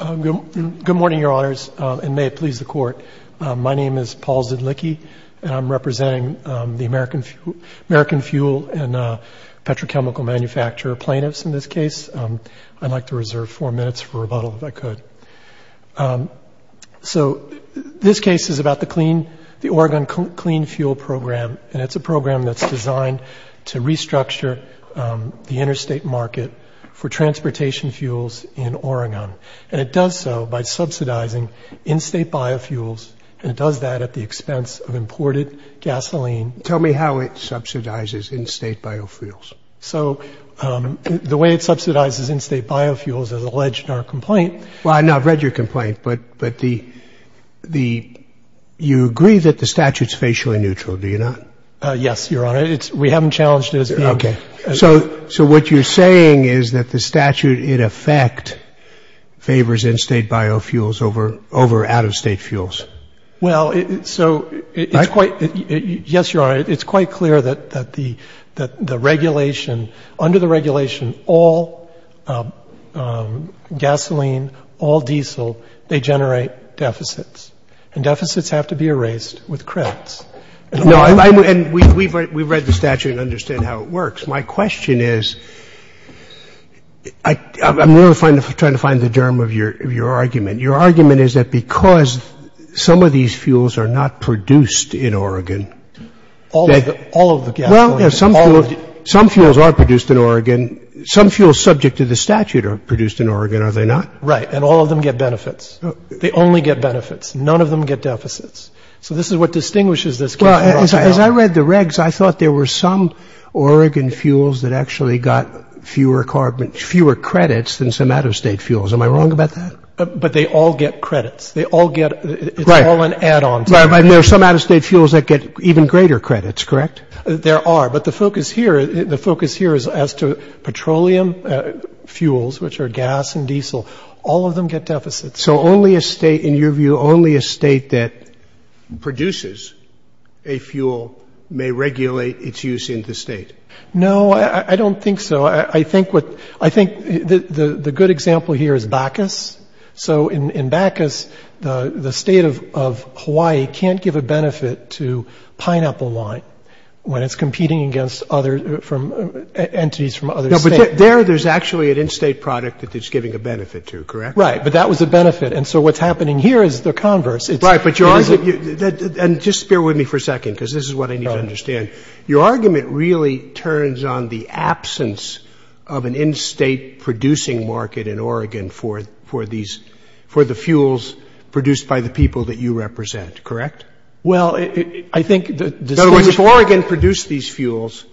Good morning, your honors, and may it please the court. My name is Paul Zedlicki, and I'm representing the American Fuel & Petrochemical Manufacturer plaintiffs in this case. I'd like to reserve four minutes for rebuttal, if I could. So this case is about the Oregon Clean Fuel Program, and it's a program that's designed to restructure the interstate market for transportation fuels in Oregon. And it does so by subsidizing in-state biofuels, and it does that at the expense of imported gasoline. Tell me how it subsidizes in-state biofuels. So the way it subsidizes in-state biofuels, as alleged in our complaint… Well, no, I've read your complaint, but you agree that the statute's facially neutral, do you not? Yes, your honor. We haven't challenged it. Okay. So what you're saying is that the statute, in effect, favors in-state biofuels over out-of-state fuels. Well, so it's quite… I… Yes, your honor. It's quite clear that the regulation, under the regulation, all gasoline, all diesel, they generate deficits. And deficits have to be erased with credits. No, and we've read the statute and understand how it works. My question is, I'm trying to find the germ of your argument. Your argument is that because some of these fuels are not produced in Oregon… All of the gasoline… Well, some fuels are produced in Oregon. Some fuels subject to the statute are produced in Oregon, are they not? Right. And all of them get benefits. They only get benefits. None of them get deficits. So this is what distinguishes this case from Rothschild. Well, as I read the regs, I thought there were some Oregon fuels that actually got fewer credits than some out-of-state fuels. Am I wrong about that? But they all get credits. They all get… Right. It's all an add-on. There are some out-of-state fuels that get even greater credits, correct? There are. But the focus here, the focus here is as to petroleum fuels, which are gas and diesel, all of them get deficits. So only a state, in your view, only a state that produces a fuel may regulate its use in the state. No, I don't think so. I think the good example here is Bacchus. So in Bacchus, the state of Hawaii can't give a benefit to pineapple wine when it's competing against entities from other states. No, but there there's actually an in-state product that it's giving a benefit to, correct? Right. But that was a benefit. And so what's happening here is the converse. Right. But your argument… And just bear with me for a second because this is what I need to understand. Your argument really turns on the absence of an in-state producing market in Oregon for the fuels produced by the people that you represent, correct? Well, I think… In other words, if Oregon produced these fuels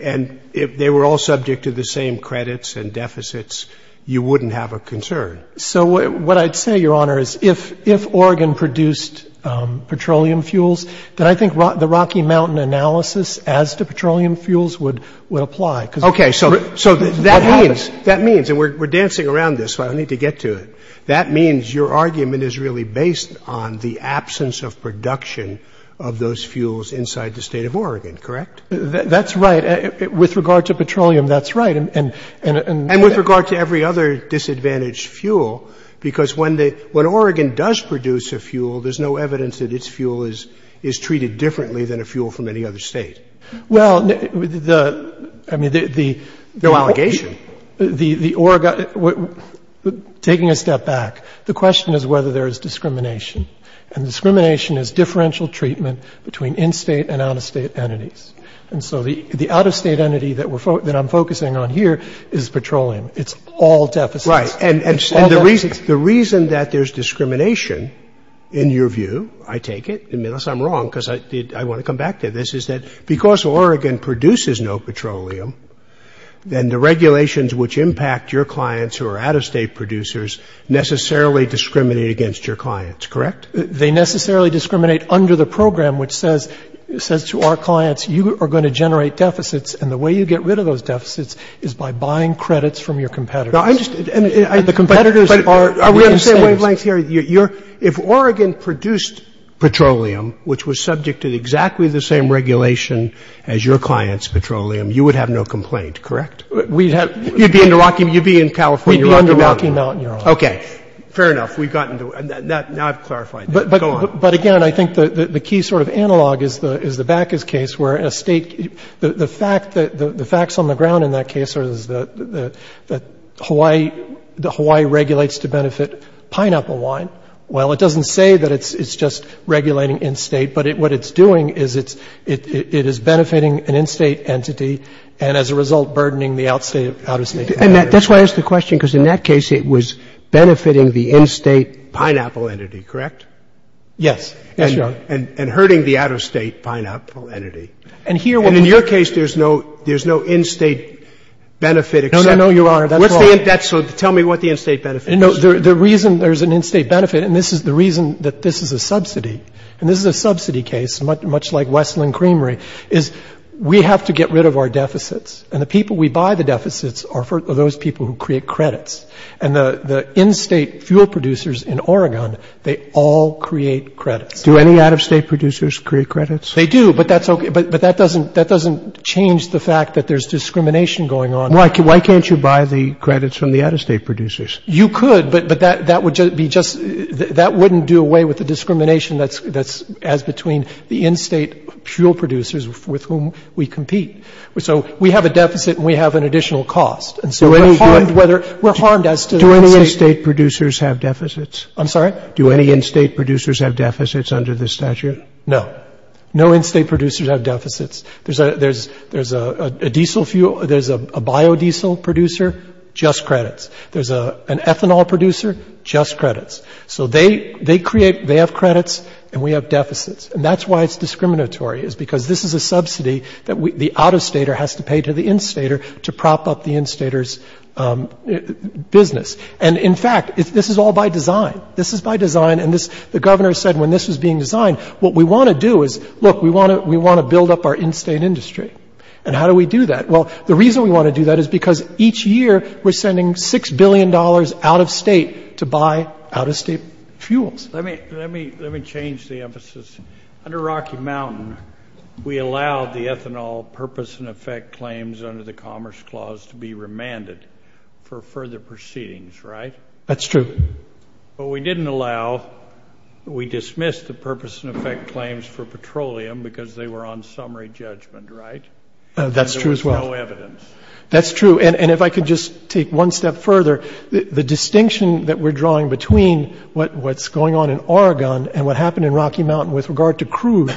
and they were all subject to the same credits and deficits, you wouldn't have a concern. So what I'd say, Your Honor, is if Oregon produced petroleum fuels, then I think the Rocky Mountain analysis as to petroleum fuels would apply. Okay. So that means, and we're dancing around this, so I don't need to get to it. That means your argument is really based on the absence of production of those fuels inside the state of Oregon, correct? That's right. With regard to petroleum, that's right. And with regard to every other disadvantaged fuel, because when Oregon does produce a fuel, there's no evidence that its fuel is treated differently than a fuel from any other state. Well, the… No allegation. Taking a step back, the question is whether there is discrimination. And discrimination is differential treatment between in-state and out-of-state entities. And so the out-of-state entity that I'm focusing on here is petroleum. It's all deficits. Right. And the reason that there's discrimination, in your view, I take it, unless I'm wrong because I want to come back to this, is that because Oregon produces no petroleum, then the regulations which impact your clients who are out-of-state producers necessarily discriminate against your clients, correct? They necessarily discriminate under the program which says to our clients, you are going to generate deficits, and the way you get rid of those deficits is by buying credits from your competitors. And the competitors are in-states. But are we on the same wavelength here? If Oregon produced petroleum, which was subject to exactly the same regulation as your clients' petroleum, you would have no complaint, correct? We'd have… You'd be in California, Rocky Mountain. We'd be under Rocky Mountain, Your Honor. Okay. Fair enough. We've gotten to it. Now I've clarified it. Go on. But, again, I think the key sort of analog is the Backus case where a State — the facts on the ground in that case are that Hawaii regulates to benefit pineapple wine. Well, it doesn't say that it's just regulating in-State, but what it's doing is it is benefiting an in-State entity and, as a result, burdening the out-of-State entity. And that's why I asked the question, because in that case it was benefiting the in-State… Pineapple entity, correct? Yes. Yes, Your Honor. And hurting the out-of-State pineapple entity. And here what we… And in your case, there's no in-State benefit except… No, no, no, Your Honor. That's wrong. So tell me what the in-State benefit is. The reason there's an in-State benefit, and this is the reason that this is a subsidy, and this is a subsidy case, much like Wesleyan Creamery, is we have to get rid of our deficits. And the people we buy the deficits are those people who create credits. And the in-State fuel producers in Oregon, they all create credits. Do any out-of-State producers create credits? They do, but that's okay. But that doesn't change the fact that there's discrimination going on. Why can't you buy the credits from the out-of-State producers? You could, but that would be just — that wouldn't do away with the discrimination that's as between the in-State fuel producers with whom we compete. So we have a deficit and we have an additional cost. And so we're harmed whether — we're harmed as to the in-State — Do any in-State producers have deficits? I'm sorry? Do any in-State producers have deficits under this statute? No. No in-State producers have deficits. There's a diesel fuel — there's a biodiesel producer, just credits. There's an ethanol producer, just credits. So they create — they have credits and we have deficits. And that's why it's discriminatory is because this is a subsidy that the out-of-Stater has to pay to the in-Stater to prop up the in-Stater's business. And, in fact, this is all by design. This is by design. And the Governor said when this was being designed, what we want to do is, look, we want to build up our in-State industry. And how do we do that? Well, the reason we want to do that is because each year we're sending $6 billion out-of-State to buy out-of-State fuels. Let me change the emphasis. Under Rocky Mountain, we allowed the ethanol purpose-and-effect claims under the Commerce Clause to be remanded for further proceedings, right? That's true. But we didn't allow — we dismissed the purpose-and-effect claims for petroleum because they were on summary judgment, right? That's true as well. And there was no evidence. That's true. And if I could just take one step further, the distinction that we're drawing between what's going on in Oregon and what happened in Rocky Mountain with regard to crude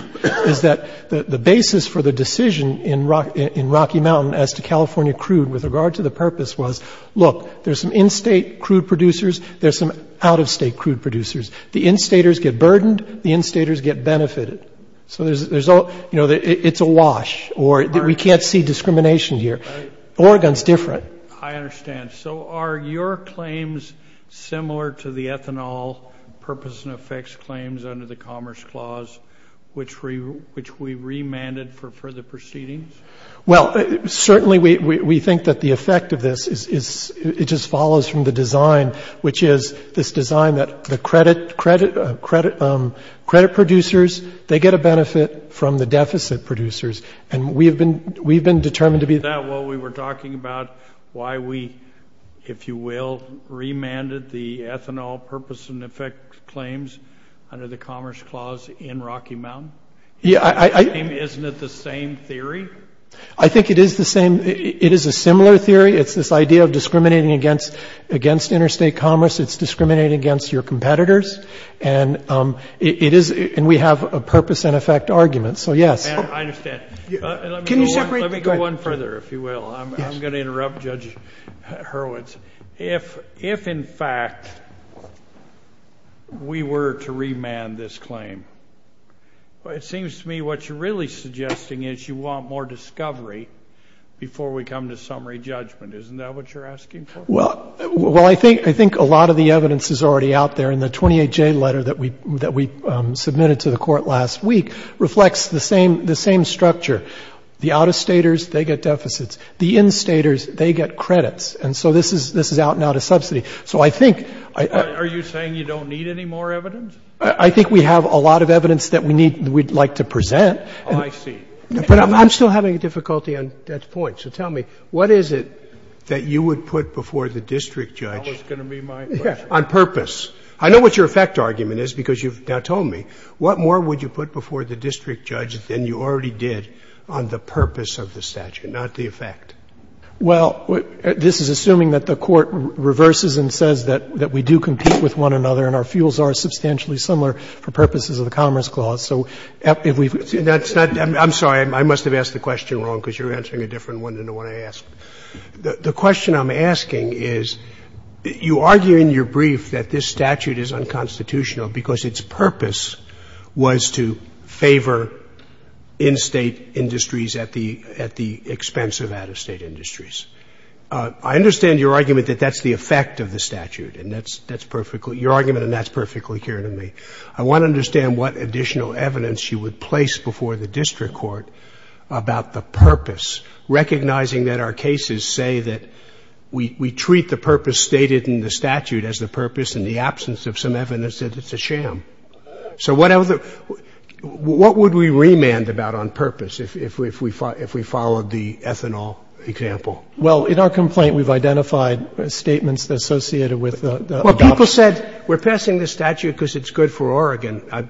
is that the basis for the decision in Rocky Mountain as to California crude with regard to the purpose was, look, there's some in-State crude producers. There's some out-of-State crude producers. The in-Staters get burdened. The in-Staters get benefited. So it's a wash, or we can't see discrimination here. Oregon's different. I understand. So are your claims similar to the ethanol purpose-and-effect claims under the Commerce Clause, which we remanded for further proceedings? Well, certainly we think that the effect of this is it just follows from the design, which is this design that the credit producers, they get a benefit from the deficit producers. And we've been determined to be that. Is that what we were talking about, why we, if you will, remanded the ethanol purpose-and-effect claims under the Commerce Clause in Rocky Mountain? Isn't it the same theory? I think it is the same. It is a similar theory. It's this idea of discriminating against interstate commerce. It's discriminating against your competitors. And we have a purpose-and-effect argument. So, yes. I understand. Let me go one further, if you will. I'm going to interrupt Judge Hurwitz. If, in fact, we were to remand this claim, it seems to me what you're really suggesting is you want more discovery before we come to summary judgment. Isn't that what you're asking for? Well, I think a lot of the evidence is already out there. And the 28J letter that we submitted to the Court last week reflects the same structure. The out-of-staters, they get deficits. The in-staters, they get credits. And so this is out-and-out of subsidy. So I think — Are you saying you don't need any more evidence? I think we have a lot of evidence that we need, that we'd like to present. Oh, I see. But I'm still having difficulty on that point. So tell me, what is it that you would put before the district judge — That was going to be my question. — on purpose? I know what your effect argument is because you've now told me. What more would you put before the district judge than you already did on the purpose of the statute, not the effect? Well, this is assuming that the Court reverses and says that we do compete with one another and our fuels are substantially similar for purposes of the Commerce Clause. So if we've — That's not — I'm sorry. I must have asked the question wrong because you're answering a different one than the one I asked. The question I'm asking is, you argue in your brief that this statute is unconstitutional because its purpose was to favor in-State industries at the expense of out-of-State industries. I understand your argument that that's the effect of the statute, and that's perfectly — your argument, and that's perfectly clear to me. I want to understand what additional evidence you would place before the district court about the purpose, recognizing that our cases say that we treat the purpose stated in the statute as the purpose in the absence of some evidence that it's a sham. So what other — what would we remand about on purpose if we followed the ethanol example? Well, in our complaint, we've identified statements associated with the — Well, people said we're passing the statute because it's good for Oregon.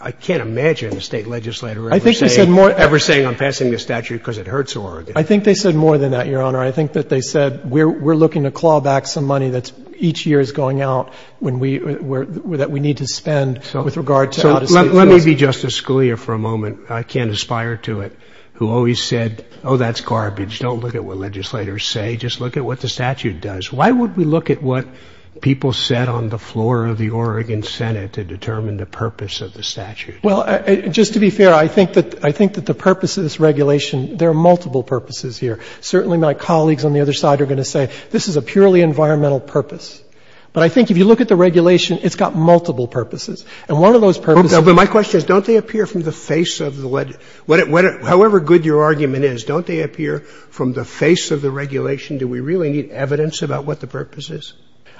I can't imagine a State legislator ever saying — I think they said more —— ever saying I'm passing the statute because it hurts Oregon. I think they said more than that, Your Honor. I think that they said we're looking to claw back some money that's — each year is going out when we — that we need to spend with regard to out-of-State — So let me be Justice Scalia for a moment. I can't aspire to it. Who always said, oh, that's garbage. Don't look at what legislators say. Just look at what the statute does. Why would we look at what people said on the floor of the Oregon Senate to determine the purpose of the statute? Well, just to be fair, I think that — I think that the purpose of this regulation — there are multiple purposes here. Certainly my colleagues on the other side are going to say this is a purely environmental purpose. But I think if you look at the regulation, it's got multiple purposes. And one of those purposes — But my question is don't they appear from the face of the — however good your argument is, don't they appear from the face of the regulation? Do we really need evidence about what the purpose is?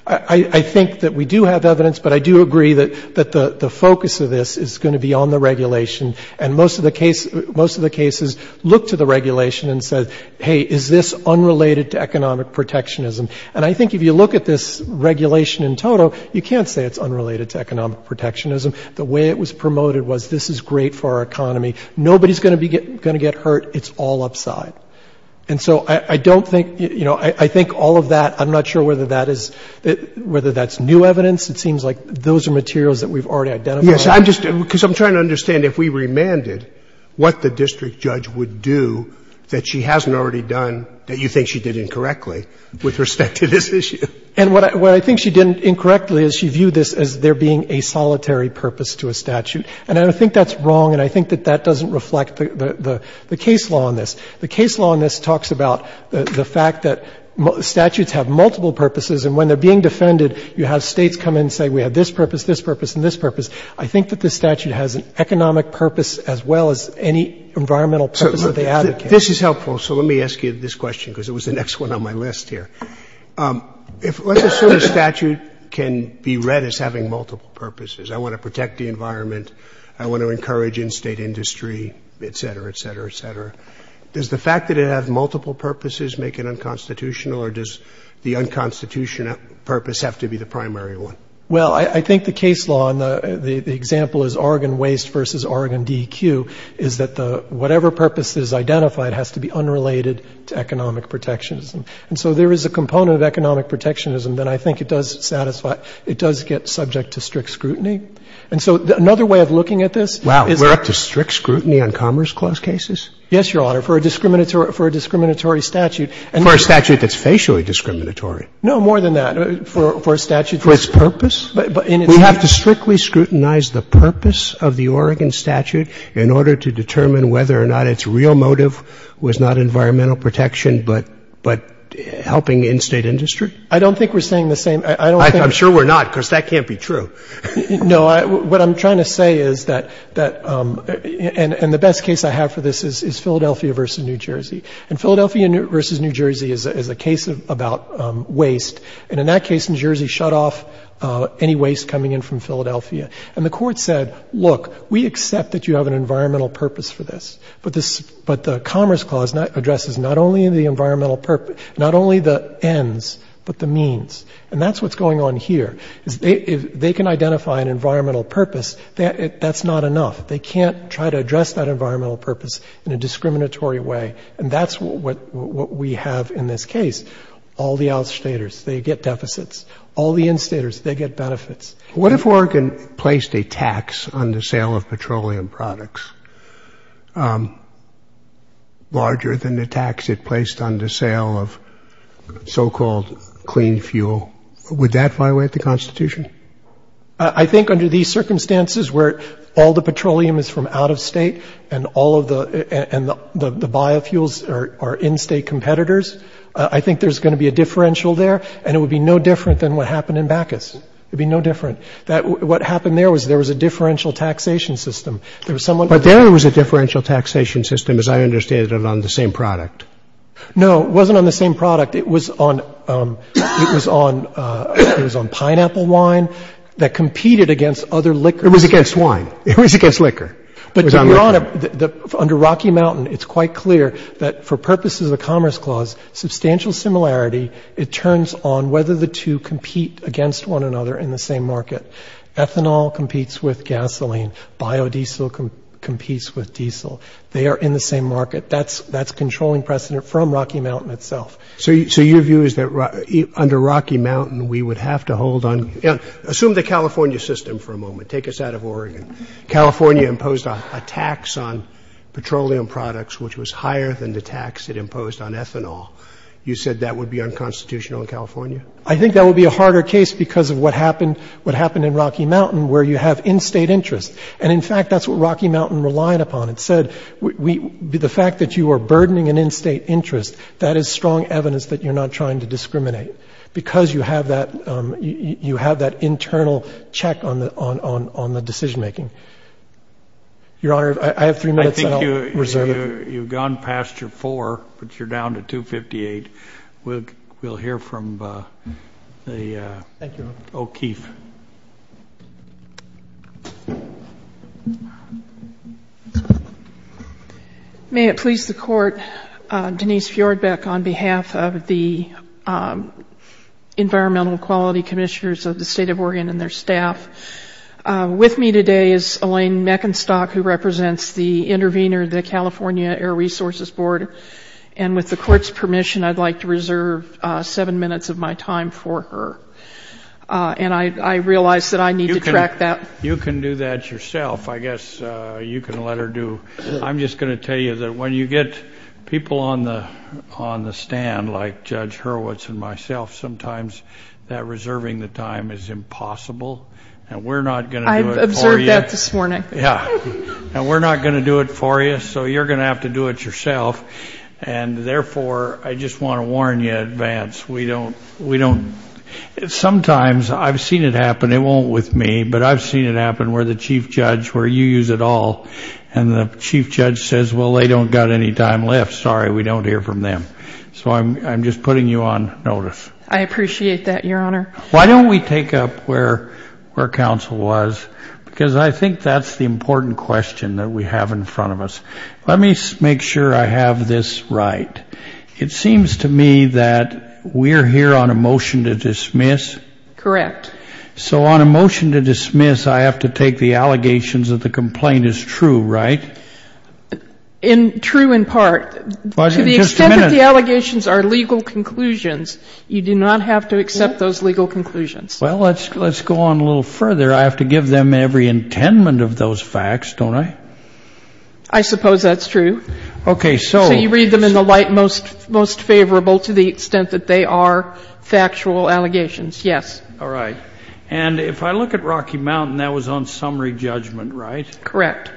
I think that we do have evidence, but I do agree that the focus of this is going to be on the regulation. And most of the case — most of the cases look to the regulation and say, hey, is this unrelated to economic protectionism? And I think if you look at this regulation in total, you can't say it's unrelated to economic protectionism. The way it was promoted was this is great for our economy. Nobody's going to be — going to get hurt. It's all upside. And so I don't think — you know, I think all of that — I'm not sure whether that is — whether that's new evidence. It seems like those are materials that we've already identified. Yes. I'm just — because I'm trying to understand if we remanded, what the district judge would do that she hasn't already done that you think she did incorrectly with respect to this issue. And what I think she did incorrectly is she viewed this as there being a solitary purpose to a statute. And I don't think that's wrong, and I think that that doesn't reflect the case law on this. The case law on this talks about the fact that statutes have multiple purposes, and when they're being defended, you have States come in and say we have this purpose, this purpose, and this purpose. I think that this statute has an economic purpose as well as any environmental purpose that they advocate. So this is helpful, so let me ask you this question because it was the next one on my list here. Let's assume a statute can be read as having multiple purposes. I want to protect the environment. I want to encourage in-State industry, et cetera, et cetera, et cetera. Does the fact that it has multiple purposes make it unconstitutional, or does the unconstitutional purpose have to be the primary one? Well, I think the case law, and the example is Oregon Waste v. Oregon DEQ, is that the whatever purpose is identified has to be unrelated to economic protectionism. And so there is a component of economic protectionism that I think it does satisfy — it does get subject to strict scrutiny. And so another way of looking at this is that— Wow. We're up to strict scrutiny on Commerce Clause cases? Yes, Your Honor, for a discriminatory statute. For a statute that's facially discriminatory? No, more than that. For a statute that's— For its purpose? We have to strictly scrutinize the purpose of the Oregon statute in order to determine whether or not its real motive was not environmental protection, but helping in-State industry? I don't think we're saying the same. I don't think— I'm sure we're not, because that can't be true. No. What I'm trying to say is that — and the best case I have for this is Philadelphia v. New Jersey. And Philadelphia v. New Jersey is a case about waste. And in that case, New Jersey shut off any waste coming in from Philadelphia. And the Court said, look, we accept that you have an environmental purpose for this, but this — but the Commerce Clause addresses not only the environmental purpose, not only the ends, but the means. And that's what's going on here. If they can identify an environmental purpose, that's not enough. They can't try to address that environmental purpose in a discriminatory And that's what we have in this case. All the out-Staters, they get deficits. All the in-Staters, they get benefits. What if Oregon placed a tax on the sale of petroleum products larger than the tax it placed on the sale of so-called clean fuel? Would that violate the Constitution? I think under these circumstances, where all the petroleum is from out-of-State, and all of the — and the biofuels are in-State competitors, I think there's going to be a differential there, and it would be no different than what happened in Bacchus. It would be no different. What happened there was there was a differential taxation system. There was someone — But there was a differential taxation system, as I understand it, on the same product. No. It wasn't on the same product. It was on — it was on pineapple wine that competed against other liquors. It was against wine. It was against liquor. But under Rocky Mountain, it's quite clear that for purposes of the Commerce Clause, substantial similarity. It turns on whether the two compete against one another in the same market. Ethanol competes with gasoline. Biodiesel competes with diesel. They are in the same market. That's controlling precedent from Rocky Mountain itself. So your view is that under Rocky Mountain, we would have to hold on — Yeah. Assume the California system for a moment. Take us out of Oregon. California imposed a tax on petroleum products, which was higher than the tax it imposed on ethanol. You said that would be unconstitutional in California? I think that would be a harder case because of what happened in Rocky Mountain, where you have in-state interests. And, in fact, that's what Rocky Mountain relied upon. It said the fact that you are burdening an in-state interest, that is strong evidence that you're not trying to discriminate because you have that internal check on the decision-making. Your Honor, I have three minutes. I think you've gone past your four, but you're down to 258. We'll hear from the — Thank you. — O'Keefe. May it please the Court. Denise Fjordbeck on behalf of the Environmental Quality Commissioners of the State of Oregon and their staff. With me today is Elaine Meckenstock, who represents the intervener, the California Air Resources Board. And with the Court's permission, I'd like to reserve seven minutes of my time for her. And I realize that I need to track that. You can do that yourself. I guess you can let her do — I'm just going to tell you that when you get people on the stand, like Judge Hurwitz and myself, sometimes that reserving the time is impossible, and we're not going to do it for you. I observed that this morning. Yeah. And we're not going to do it for you, so you're going to have to do it yourself. And therefore, I just want to warn you in advance, we don't — sometimes I've seen it happen. It won't with me, but I've seen it happen where the chief judge, where you use it all, and the chief judge says, well, they don't got any time left. Sorry, we don't hear from them. So I'm just putting you on notice. I appreciate that, Your Honor. Why don't we take up where counsel was? Because I think that's the important question that we have in front of us. Let me make sure I have this right. It seems to me that we're here on a motion to dismiss. Correct. So on a motion to dismiss, I have to take the allegations that the complaint is true, right? True in part. To the extent that the allegations are legal conclusions, you do not have to accept those legal conclusions. Well, let's go on a little further. I have to give them every intendment of those facts, don't I? I suppose that's true. Okay, so. So you read them in the light most favorable to the extent that they are factual allegations, yes. All right. And if I look at Rocky Mountain, that was on summary judgment, right? Correct.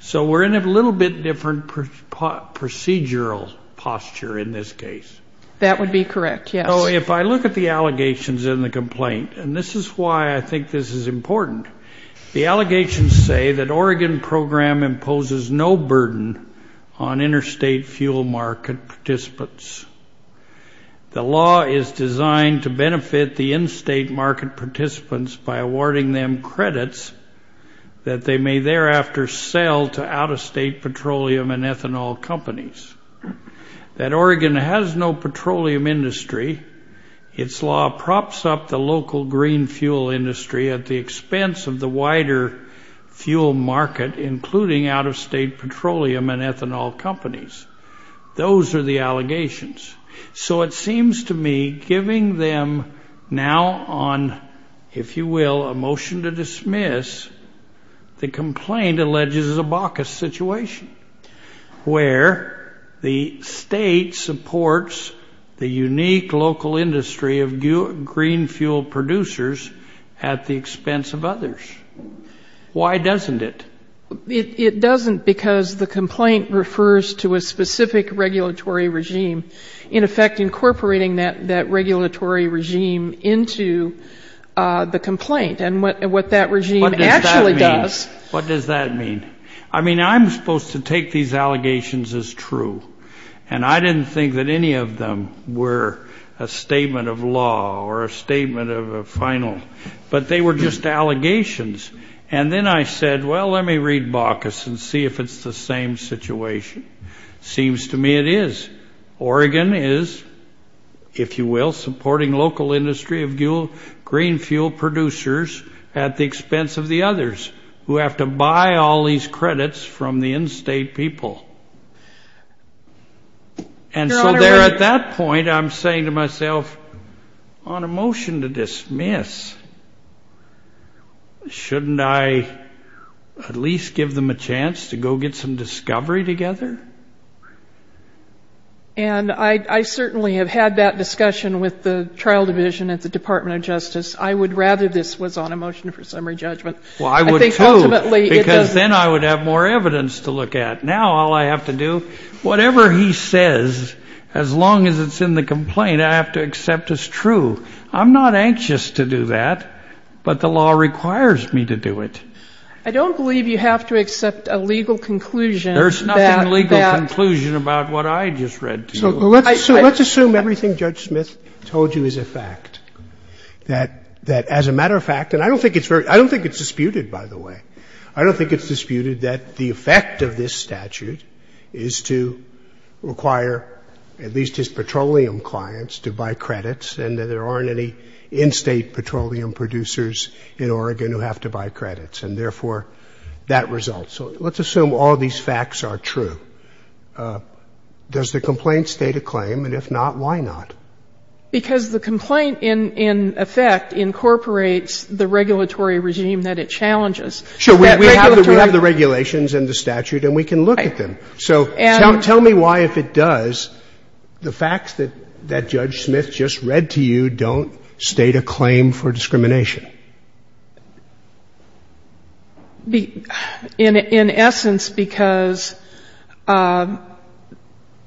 So we're in a little bit different procedural posture in this case. That would be correct, yes. So if I look at the allegations in the complaint, and this is why I think this is important, the allegations say that Oregon program imposes no burden on interstate fuel market participants. The law is designed to benefit the in-state market participants by awarding them credits that they may thereafter sell to out-of-state petroleum and ethanol companies. That Oregon has no petroleum industry, its law props up the local green fuel industry at the expense of the wider fuel market, including out-of-state petroleum and ethanol companies. Those are the allegations. So it seems to me, giving them now on, if you will, a motion to dismiss, the complaint alleges a baucus situation, where the state supports the unique local industry of green fuel producers at the expense of others. Why doesn't it? It doesn't because the complaint refers to a specific regulatory regime, in effect incorporating that regulatory regime into the complaint, and what that regime actually does. What does that mean? I mean, I'm supposed to take these allegations as true, and I didn't think that any of them were a statement of law or a statement of a final, but they were just allegations. And then I said, well, let me read baucus and see if it's the same situation. Seems to me it is. Oregon is, if you will, supporting local industry of green fuel producers at the expense of the others, who have to buy all these credits from the in-state people. And so there at that point, I'm saying to myself, on a motion to dismiss, shouldn't I at least give them a chance to go get some discovery together? And I certainly have had that discussion with the trial division at the Department of Justice. I would rather this was on a motion for summary judgment. Well, I would, too, because then I would have more evidence to look at. Now all I have to do, whatever he says, as long as it's in the complaint, I have to accept as true. I'm not anxious to do that, but the law requires me to do it. I don't believe you have to accept a legal conclusion. There's nothing legal conclusion about what I just read to you. So let's assume everything Judge Smith told you is a fact, that as a matter of fact, and I don't think it's disputed, by the way. I don't think it's disputed that the effect of this statute is to require at least his petroleum clients to buy credits and that there aren't any in-state petroleum producers in Oregon who have to buy credits, and therefore that results. So let's assume all these facts are true. Does the complaint state a claim? And if not, why not? Because the complaint, in effect, incorporates the regulatory regime that it challenges. Sure. We have the regulations and the statute, and we can look at them. So tell me why, if it does, the facts that Judge Smith just read to you don't state a claim for discrimination. In essence, because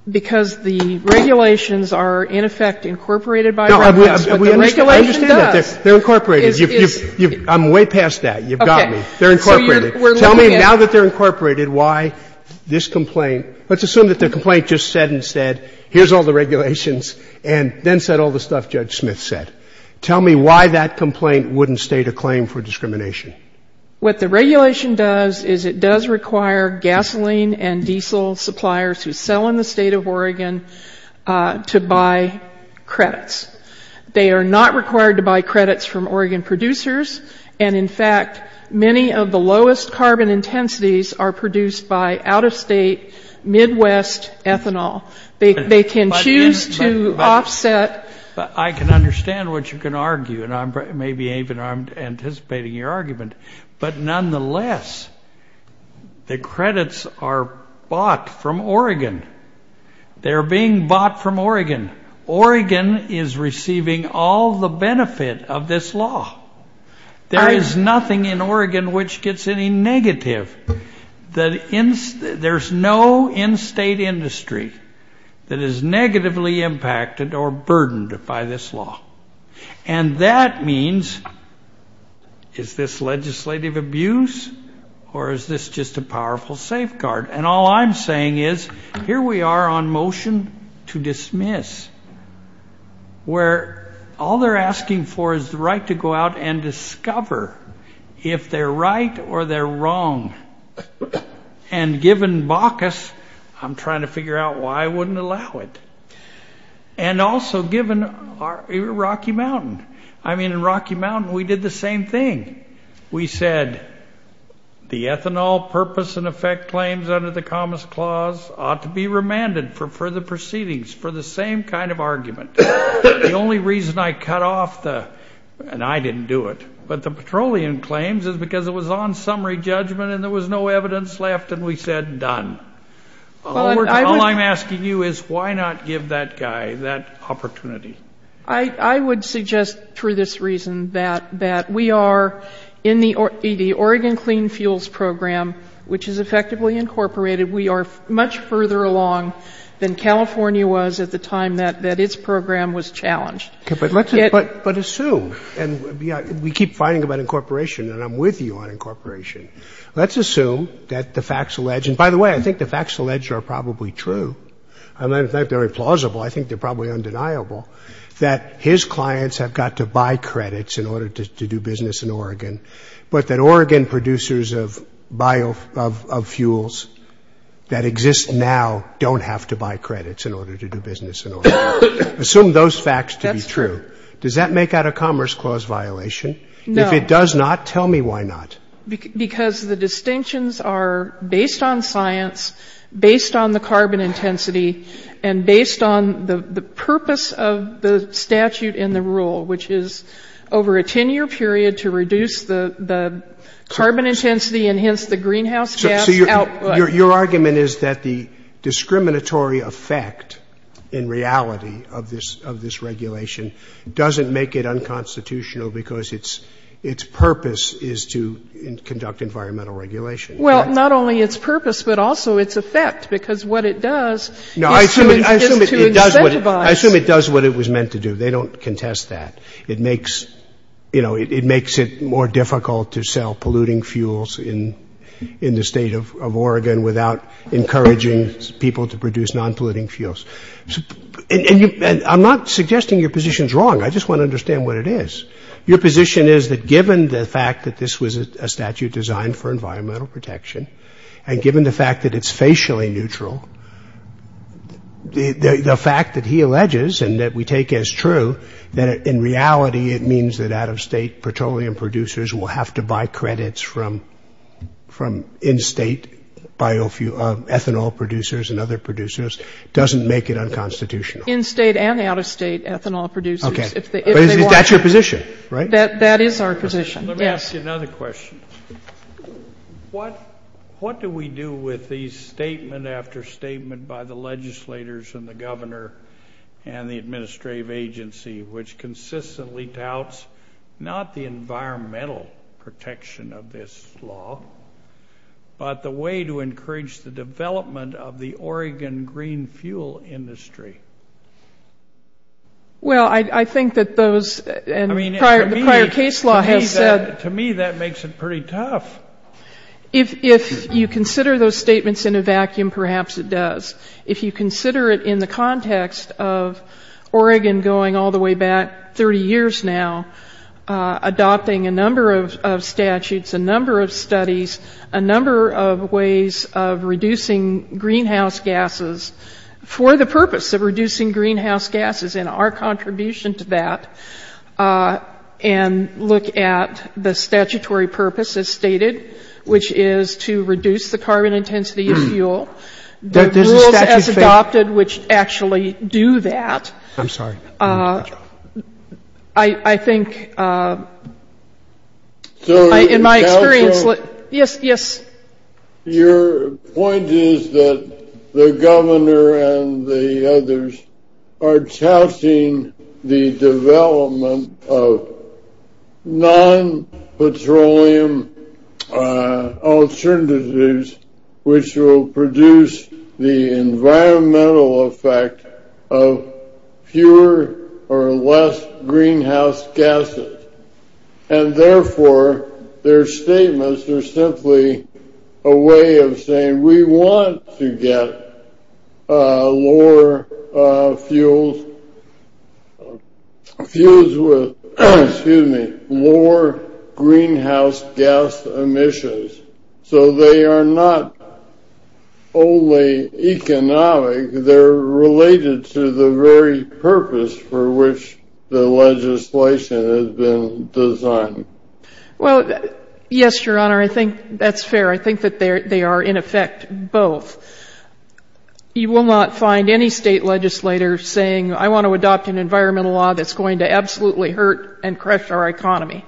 the regulations are, in effect, incorporated by the regulators. But the regulation does. I understand that. They're incorporated. I'm way past that. You've got me. They're incorporated. Tell me, now that they're incorporated, why this complaint, let's assume that the complaint just said and said, here's all the regulations, and then said all the stuff Judge Smith said. Tell me why that complaint wouldn't state a claim for discrimination. What the regulation does is it does require gasoline and diesel suppliers who sell in the state of Oregon to buy credits. They are not required to buy credits from Oregon producers. And, in fact, many of the lowest carbon intensities are produced by out-of-state Midwest ethanol. They can choose to offset. I can understand what you're going to argue. And maybe even I'm anticipating your argument. But, nonetheless, the credits are bought from Oregon. They're being bought from Oregon. Oregon is receiving all the benefit of this law. There is nothing in Oregon which gets any negative. There's no in-state industry that is negatively impacted or burdened by this law. And that means, is this legislative abuse, or is this just a powerful safeguard? And all I'm saying is, here we are on motion to dismiss, where all they're asking for is the right to go out and discover if they're right or they're wrong. And given Baucus, I'm trying to figure out why I wouldn't allow it. And also given Rocky Mountain. I mean, in Rocky Mountain, we did the same thing. We said the ethanol purpose and effect claims under the Commerce Clause ought to be remanded for further proceedings for the same kind of argument. The only reason I cut off the, and I didn't do it, but the petroleum claims, is because it was on summary judgment and there was no evidence left, and we said, done. All I'm asking you is, why not give that guy that opportunity? I would suggest, for this reason, that we are, in the Oregon Clean Fuels Program, which is effectively incorporated, we are much further along than California was at the time that its program was challenged. But assume, and we keep fighting about incorporation, and I'm with you on incorporation. Let's assume that the facts allege, and by the way, I think the facts allege are probably true, and they're plausible, I think they're probably undeniable, that his clients have got to buy credits in order to do business in Oregon, but that Oregon producers of fuels that exist now don't have to buy credits in order to do business in Oregon. Assume those facts to be true. That's true. Does that make out a Commerce Clause violation? No. If it does not, tell me why not. Because the distinctions are based on science, based on the carbon intensity, and based on the purpose of the statute and the rule, which is over a 10-year period to reduce the carbon intensity and hence the greenhouse gas output. So your argument is that the discriminatory effect, in reality, of this regulation doesn't make it unconstitutional because its purpose is to conduct environmental regulation. Well, not only its purpose, but also its effect, because what it does is to incentivize. I assume it does what it was meant to do. They don't contest that. It makes it more difficult to sell polluting fuels in the State of Oregon without encouraging people to produce non-polluting fuels. And I'm not suggesting your position is wrong. I just want to understand what it is. Your position is that given the fact that this was a statute designed for environmental protection and given the fact that it's facially neutral, the fact that he alleges and that we take as true that in reality it means that out-of-State petroleum producers will have to buy credits from in-State ethanol producers and other producers doesn't make it unconstitutional. In-State and out-of-State ethanol producers. Okay. That's your position, right? That is our position, yes. Let me ask you another question. What do we do with these statement after statement by the legislators and the governor and the administrative agency which consistently doubts not the environmental protection of this law, but the way to encourage the development of the Oregon green fuel industry? Well, I think that those and the prior case law has said... To me, that makes it pretty tough. If you consider those statements in a vacuum, perhaps it does. If you consider it in the context of Oregon going all the way back 30 years now, adopting a number of statutes, a number of studies, a number of ways of reducing greenhouse gases for the purpose of reducing greenhouse gases and our contribution to that and look at the statutory purpose as stated, which is to reduce the carbon intensity of fuel, the rules as adopted which actually do that. I'm sorry. I think in my experience... Yes. Your point is that the governor and the others are touting the development of non-petroleum alternatives which will produce the environmental effect of fewer or less greenhouse gases. And therefore, their statements are simply a way of saying, we want to get lower fuels with lower greenhouse gas emissions. So they are not only economic, they're related to the very purpose for which the legislation has been designed. Well, yes, Your Honor. I think that's fair. I think that they are, in effect, both. You will not find any state legislator saying, I want to adopt an environmental law that's going to absolutely hurt and crush our economy.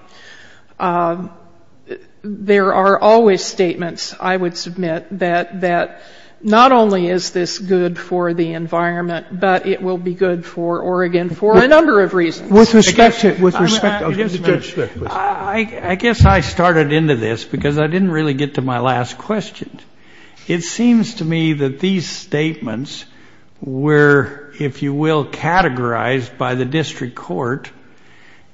There are always statements, I would submit, that not only is this good for the environment, but it will be good for Oregon for a number of reasons. With respect to... I guess I started into this because I didn't really get to my last question. It seems to me that these statements were, if you will, categorized by the district court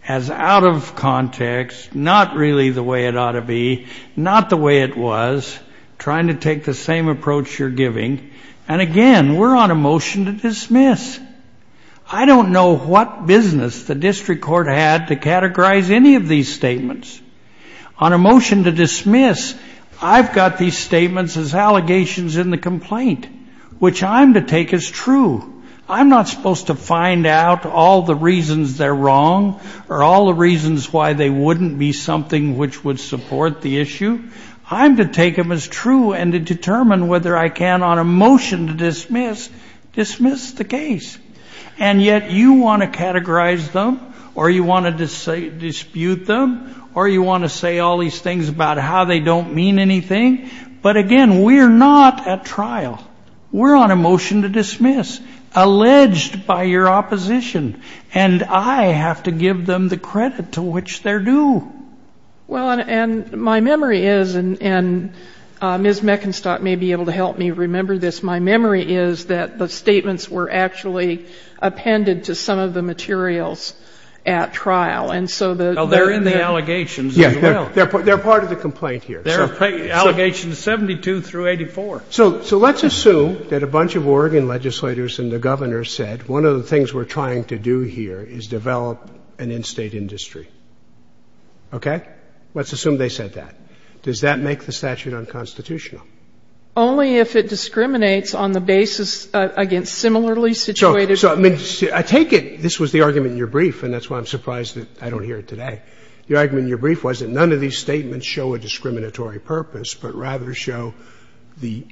as out of context, not really the way it ought to be, not the way it was, trying to take the same approach you're giving. And again, we're on a motion to dismiss. I don't know what business the district court had to categorize any of these statements. On a motion to dismiss, I've got these statements as allegations in the complaint, which I'm to take as true. I'm not supposed to find out all the reasons they're wrong or all the reasons why they wouldn't be something which would support the issue. I'm to take them as true and to determine whether I can, on a motion to dismiss, dismiss the case. And yet you want to categorize them, or you want to dispute them, or you want to say all these things about how they don't mean anything. But again, we're not at trial. We're on a motion to dismiss, alleged by your opposition. And I have to give them the credit to which they're due. Well, and my memory is, and Ms. Meckenstock may be able to help me remember this, my memory is that the statements were actually appended to some of the materials at trial. And so the- Well, they're in the allegations as well. They're part of the complaint here. They're allegations 72 through 84. So let's assume that a bunch of Oregon legislators and the governor said, one of the things we're trying to do here is develop an in-State industry. Okay? Let's assume they said that. Does that make the statute unconstitutional? Only if it discriminates on the basis, again, similarly situated- So I take it this was the argument in your brief, and that's why I'm surprised that I don't hear it today. The argument in your brief was that none of these statements show a discriminatory purpose but rather show the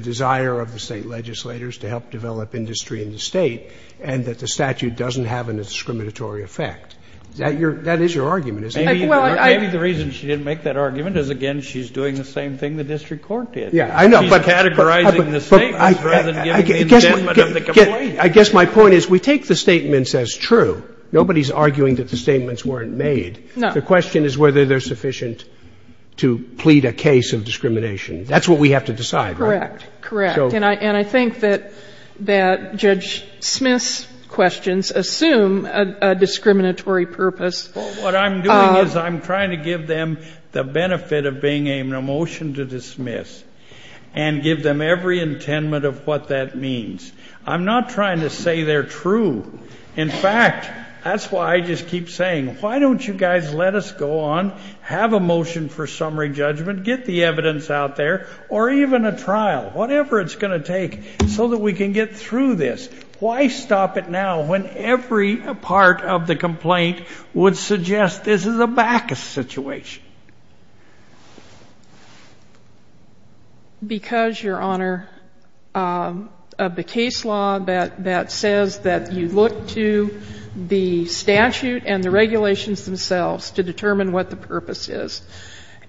desire of the State legislators to help develop industry in the State and that the statute doesn't have a discriminatory effect. That is your argument, isn't it? Well, I- Maybe the reason she didn't make that argument is, again, she's doing the same thing the district court did. Yeah, I know, but- She's categorizing the statements rather than giving the indentment of the complaint. I guess my point is we take the statements as true. Nobody's arguing that the statements weren't made. No. The question is whether they're sufficient to plead a case of discrimination. That's what we have to decide, right? Correct, correct. And I think that Judge Smith's questions assume a discriminatory purpose. What I'm doing is I'm trying to give them the benefit of being a motion to dismiss and give them every intent of what that means. I'm not trying to say they're true. In fact, that's why I just keep saying, why don't you guys let us go on, have a motion for summary judgment, get the evidence out there, or even a trial, whatever it's going to take so that we can get through this. Why stop it now when every part of the complaint would suggest this is a back situation? Because, Your Honor, of the case law that says that you look to the statute and the regulations themselves to determine what the purpose is.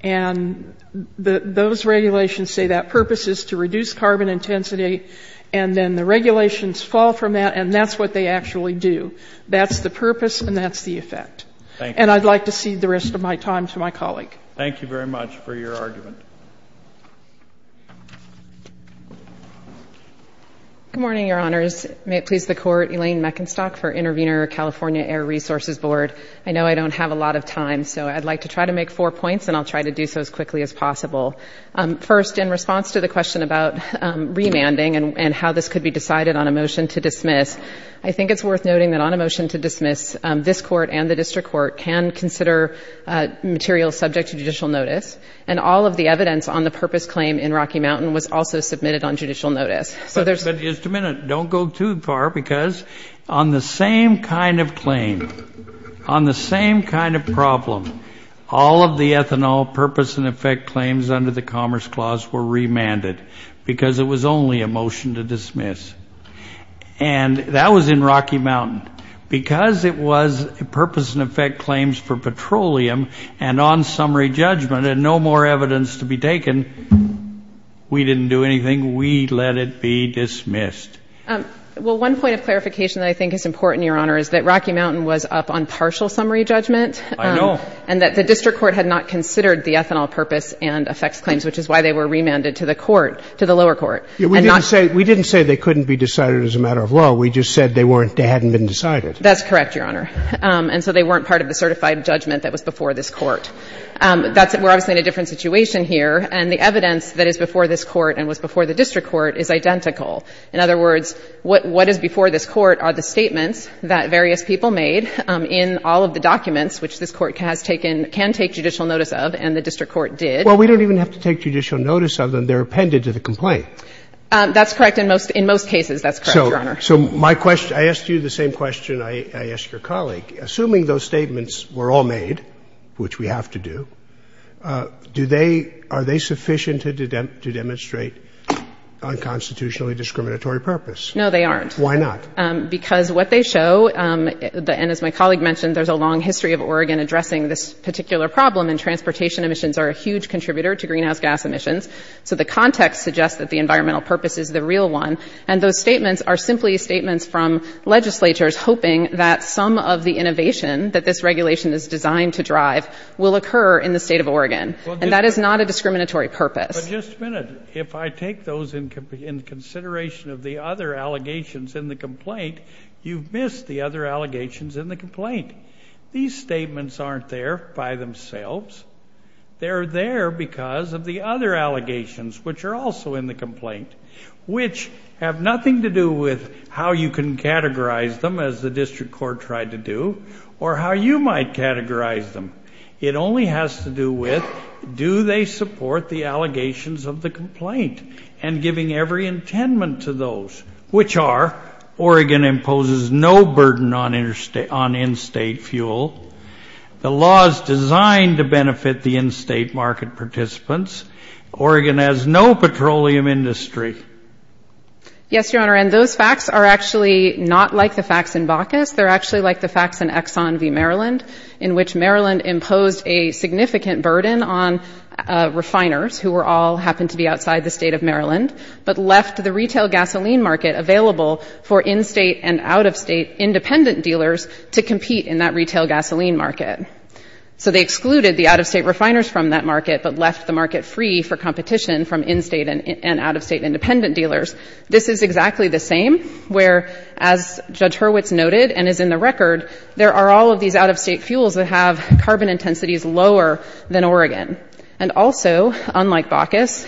And those regulations say that purpose is to reduce carbon intensity, and then the regulations fall from that, and that's what they actually do. That's the purpose, and that's the effect. Thank you. And I'd like to cede the rest of my time to my colleague. Thank you very much for your argument. Good morning, Your Honors. May it please the Court, Elaine Meckenstock for Intervenor California Air Resources Board. I know I don't have a lot of time, so I'd like to try to make four points, and I'll try to do so as quickly as possible. First, in response to the question about remanding and how this could be decided on a motion to dismiss, I think it's worth noting that on a motion to dismiss, this Court and the district court can consider material subject to judicial notice, and all of the evidence on the purpose claim in Rocky Mountain was also submitted on judicial notice. But just a minute. Don't go too far, because on the same kind of claim, on the same kind of problem, all of the ethanol purpose and effect claims under the Commerce Clause were remanded because it was only a motion to dismiss. And that was in Rocky Mountain. Because it was purpose and effect claims for petroleum and on summary judgment and no more evidence to be taken, we didn't do anything. We let it be dismissed. Well, one point of clarification that I think is important, Your Honor, is that Rocky Mountain was up on partial summary judgment. I know. And that the district court had not considered the ethanol purpose and effects claims, which is why they were remanded to the lower court. We didn't say they couldn't be decided as a matter of law. We just said they hadn't been decided. That's correct, Your Honor. And so they weren't part of the certified judgment that was before this court. We're obviously in a different situation here. And the evidence that is before this court and was before the district court is identical. In other words, what is before this court are the statements that various people made in all of the documents, which this court can take judicial notice of, and the district court did. Well, we don't even have to take judicial notice of them. They're appended to the complaint. That's correct. In most cases, that's correct, Your Honor. So I asked you the same question I asked your colleague. Assuming those statements were all made, which we have to do, are they sufficient to demonstrate unconstitutionally discriminatory purpose? No, they aren't. Why not? Because what they show, and as my colleague mentioned, there's a long history of Oregon addressing this particular problem, and transportation emissions are a huge contributor to greenhouse gas emissions. So the context suggests that the environmental purpose is the real one. And those statements are simply statements from legislatures hoping that some of the innovation that this regulation is designed to drive will occur in the state of Oregon. And that is not a discriminatory purpose. But just a minute. If I take those in consideration of the other allegations in the complaint, you've missed the other allegations in the complaint. These statements aren't there by themselves. They're there because of the other allegations, which are also in the complaint, which have nothing to do with how you can categorize them, as the district court tried to do, or how you might categorize them. It only has to do with do they support the allegations of the complaint and giving every intendment to those, which are Oregon imposes no burden on in-state fuel, the law is designed to benefit the in-state market participants, Oregon has no petroleum industry. Yes, Your Honor. And those facts are actually not like the facts in Baucus. They're actually like the facts in Exxon v. Maryland, in which Maryland imposed a significant burden on refiners, who all happened to be outside the state of Maryland, but left the retail gasoline market available for in-state and out-of-state independent dealers to compete in that retail gasoline market. So they excluded the out-of-state refiners from that market, but left the market free for competition from in-state and out-of-state independent dealers. This is exactly the same, where, as Judge Hurwitz noted and is in the record, there are all of these out-of-state fuels that have carbon intensities lower than Oregon. And also, unlike Baucus,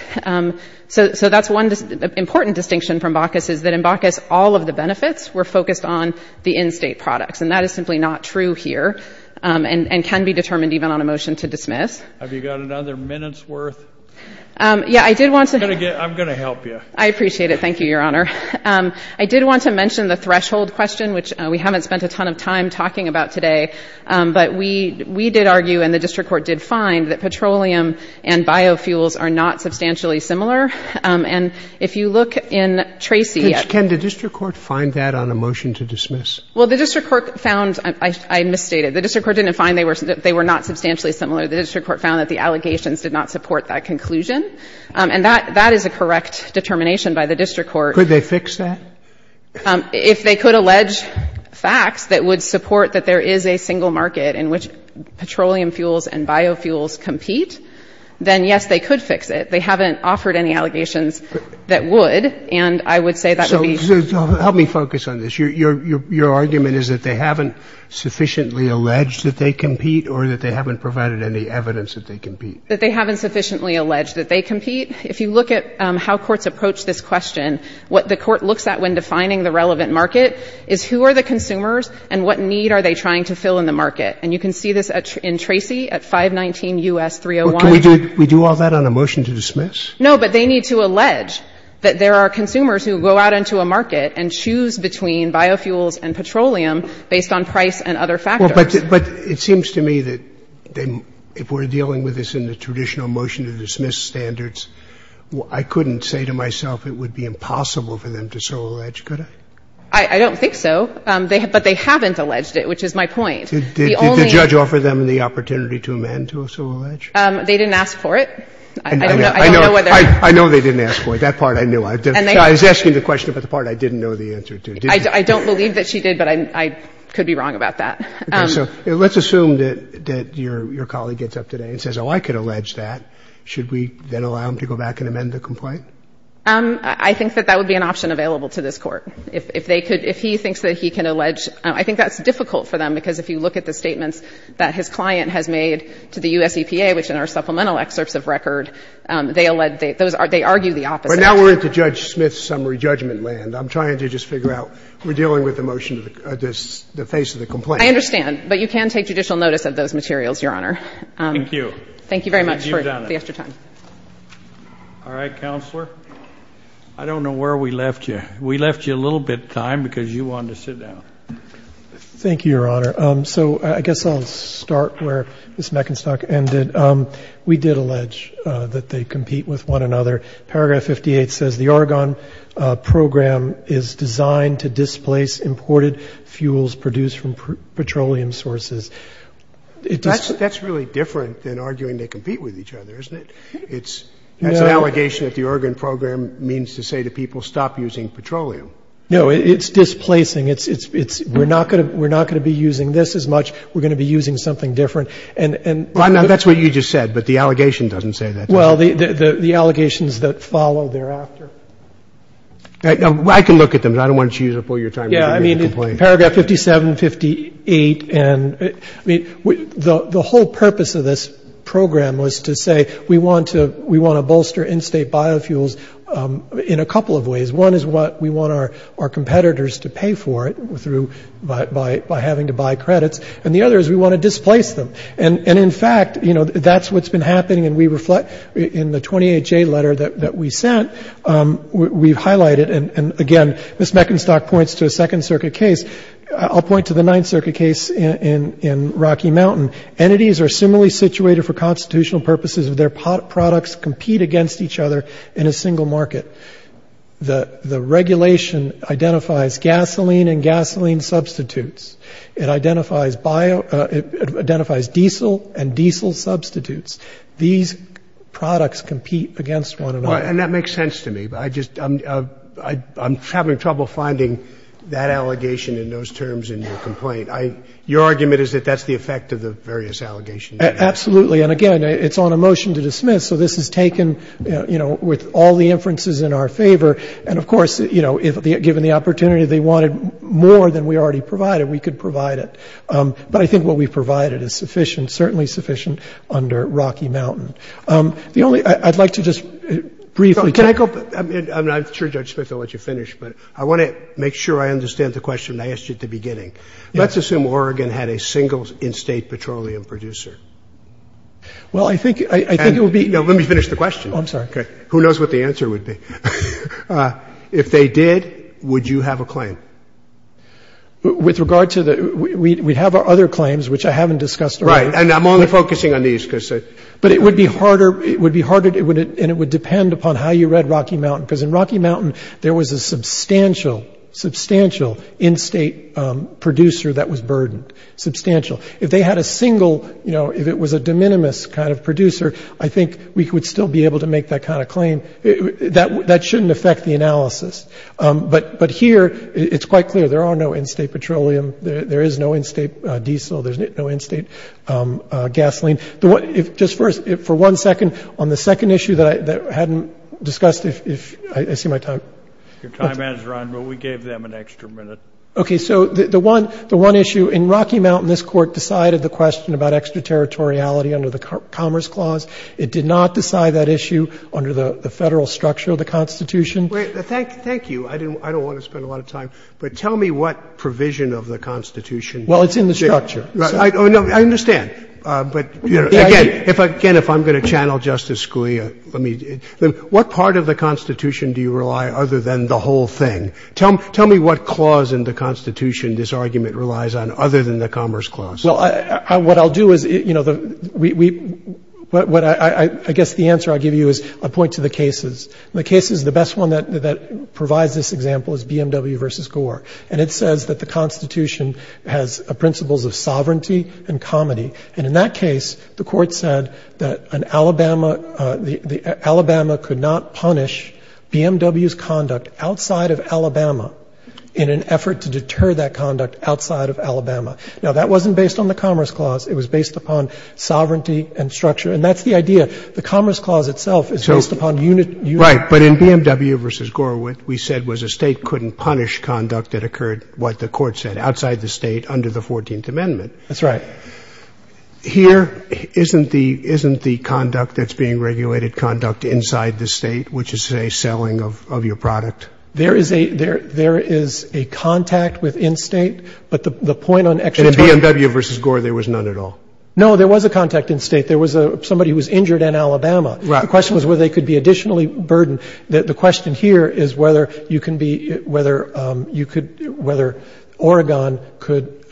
so that's one important distinction from Baucus, is that in Baucus all of the benefits were focused on the in-state products, and that is simply not true here and can be determined even on a motion to dismiss. Have you got another minute's worth? Yeah, I did want to. I'm going to help you. I appreciate it. Thank you, Your Honor. I did want to mention the threshold question, which we haven't spent a ton of time talking about today, but we did argue and the district court did find that petroleum and biofuels are not substantially similar. And if you look in Tracy. Can the district court find that on a motion to dismiss? Well, the district court found — I misstated. The district court didn't find they were not substantially similar. The district court found that the allegations did not support that conclusion. And that is a correct determination by the district court. Could they fix that? If they could allege facts that would support that there is a single market in which petroleum fuels and biofuels compete, then, yes, they could fix it. They haven't offered any allegations that would, and I would say that would be — So help me focus on this. Your argument is that they haven't sufficiently alleged that they compete or that they haven't provided any evidence that they compete? That they haven't sufficiently alleged that they compete. If you look at how courts approach this question, what the court looks at when defining the relevant market is who are the consumers and what need are they trying to fill in the market. And you can see this in Tracy at 519 U.S. 301. Can we do all that on a motion to dismiss? No, but they need to allege that there are consumers who go out into a market and choose between biofuels and petroleum based on price and other factors. But it seems to me that if we're dealing with this in the traditional motion to dismiss standards, I couldn't say to myself it would be impossible for them to so allege, could I? I don't think so. But they haven't alleged it, which is my point. Did the judge offer them the opportunity to amend to so allege? They didn't ask for it. I don't know whether — I know they didn't ask for it. That part I knew. I was asking the question about the part I didn't know the answer to. I don't believe that she did, but I could be wrong about that. Okay. So let's assume that your colleague gets up today and says, oh, I could allege that. Should we then allow him to go back and amend the complaint? I think that that would be an option available to this Court. If they could — if he thinks that he can allege, I think that's difficult for them, because if you look at the statements that his client has made to the U.S. EPA, which in our supplemental excerpts of record, they allege — they argue the opposite. But now we're at the Judge Smith's summary judgment land. I'm trying to just figure out — we're dealing with the motion of the — the face of the complaint. I understand. But you can take judicial notice of those materials, Your Honor. Thank you. Thank you very much for the extra time. All right. Counselor? I don't know where we left you. We left you a little bit of time because you wanted to sit down. Thank you, Your Honor. So I guess I'll start where Ms. Meckenstock ended. We did allege that they compete with one another. Paragraph 58 says the Argonne program is designed to displace imported fuels produced from petroleum sources. That's really different than arguing they compete with each other, isn't it? No. That's an allegation that the Argonne program means to say to people, stop using petroleum. No, it's displacing. It's — we're not going to be using this as much. We're going to be using something different. Well, that's what you just said, but the allegation doesn't say that. Well, the allegations that follow thereafter. I can look at them. I don't want you to use up all your time. Yeah, I mean, paragraph 57, 58, and — I mean, the whole purpose of this program was to say we want to — we want to bolster in-state biofuels in a couple of ways. One is what we want our competitors to pay for it through — by having to buy credits. And the other is we want to displace them. And, in fact, you know, that's what's been happening. And we reflect — in the 28-J letter that we sent, we highlight it. And, again, Ms. Meckenstock points to a Second Circuit case. I'll point to the Ninth Circuit case in Rocky Mountain. Entities are similarly situated for constitutional purposes if their products compete against each other in a single market. The regulation identifies gasoline and gasoline substitutes. It identifies bio — it identifies diesel and diesel substitutes. These products compete against one another. And that makes sense to me. But I just — I'm having trouble finding that allegation in those terms in your complaint. I — your argument is that that's the effect of the various allegations. Absolutely. And, again, it's on a motion to dismiss. So this is taken, you know, with all the inferences in our favor. And, of course, you know, given the opportunity they wanted more than we already provided, we could provide it. But I think what we provided is sufficient, certainly sufficient, under Rocky Mountain. The only — I'd like to just briefly — Can I go — I'm not sure, Judge Smith, I'll let you finish. But I want to make sure I understand the question I asked you at the beginning. Let's assume Oregon had a single in-state petroleum producer. Well, I think it would be — No, let me finish the question. Oh, I'm sorry. Okay. Who knows what the answer would be. If they did, would you have a claim? With regard to the — we have other claims, which I haven't discussed already. Right. And I'm only focusing on these because — But it would be harder — it would be harder — and it would depend upon how you read Rocky Mountain. Because in Rocky Mountain, there was a substantial, substantial in-state producer that was burdened. Substantial. If they had a single — you know, if it was a de minimis kind of producer, I think we would still be able to make that kind of claim. That shouldn't affect the analysis. But here, it's quite clear, there are no in-state petroleum. There is no in-state diesel. There's no in-state gasoline. Just for one second, on the second issue that I hadn't discussed, if — I see my time. Your time has run, but we gave them an extra minute. Okay. So the one — the one issue in Rocky Mountain, this Court decided the question about extraterritoriality under the Commerce Clause. It did not decide that issue under the Federal structure of the Constitution. Thank you. I don't want to spend a lot of time, but tell me what provision of the Constitution Well, it's in the structure. I understand. But again, if I'm going to channel Justice Scalia, let me — what part of the Constitution do you rely other than the whole thing? Tell me what clause in the Constitution this argument relies on other than the Commerce Clause. Well, what I'll do is, you know, we — I guess the answer I'll give you is I'll point to the cases. In the cases, the best one that provides this example is BMW v. Gore. And it says that the Constitution has principles of sovereignty and comedy. And in that case, the Court said that an Alabama — Alabama could not punish BMW's conduct outside of Alabama in an effort to deter that conduct outside of Alabama. Now, that wasn't based on the Commerce Clause. It was based upon sovereignty and structure. And that's the idea. The Commerce Clause itself is based upon unit — Right. But in BMW v. Gore, what we said was a State couldn't punish conduct that occurred, what the Court said, outside the State under the 14th Amendment. That's right. Here, isn't the — isn't the conduct that's being regulated conduct inside the State, which is, say, selling of your product? There is a — there is a contact within State. But the point on — And in BMW v. Gore, there was none at all? No, there was a contact in State. There was a — somebody was injured in Alabama. Right. The question was whether they could be additionally burdened. The question here is whether you can be — whether you could — whether Oregon could,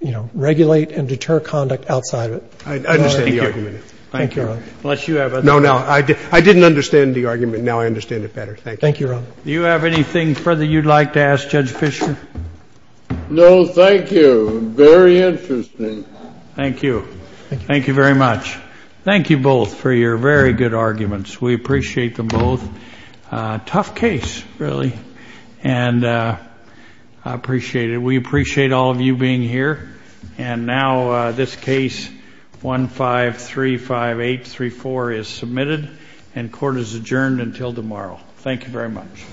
you know, regulate and deter conduct outside of it. I understand the argument. Thank you. Thank you, Your Honor. Unless you have other — No, no. I didn't understand the argument. Now I understand it better. Thank you. Thank you, Your Honor. Do you have anything further you'd like to ask Judge Fischer? No, thank you. Very interesting. Thank you. Thank you very much. Thank you both for your very good arguments. We appreciate them both. Tough case, really. And I appreciate it. We appreciate all of you being here. And now this case 1535834 is submitted and court is adjourned until tomorrow. Thank you very much.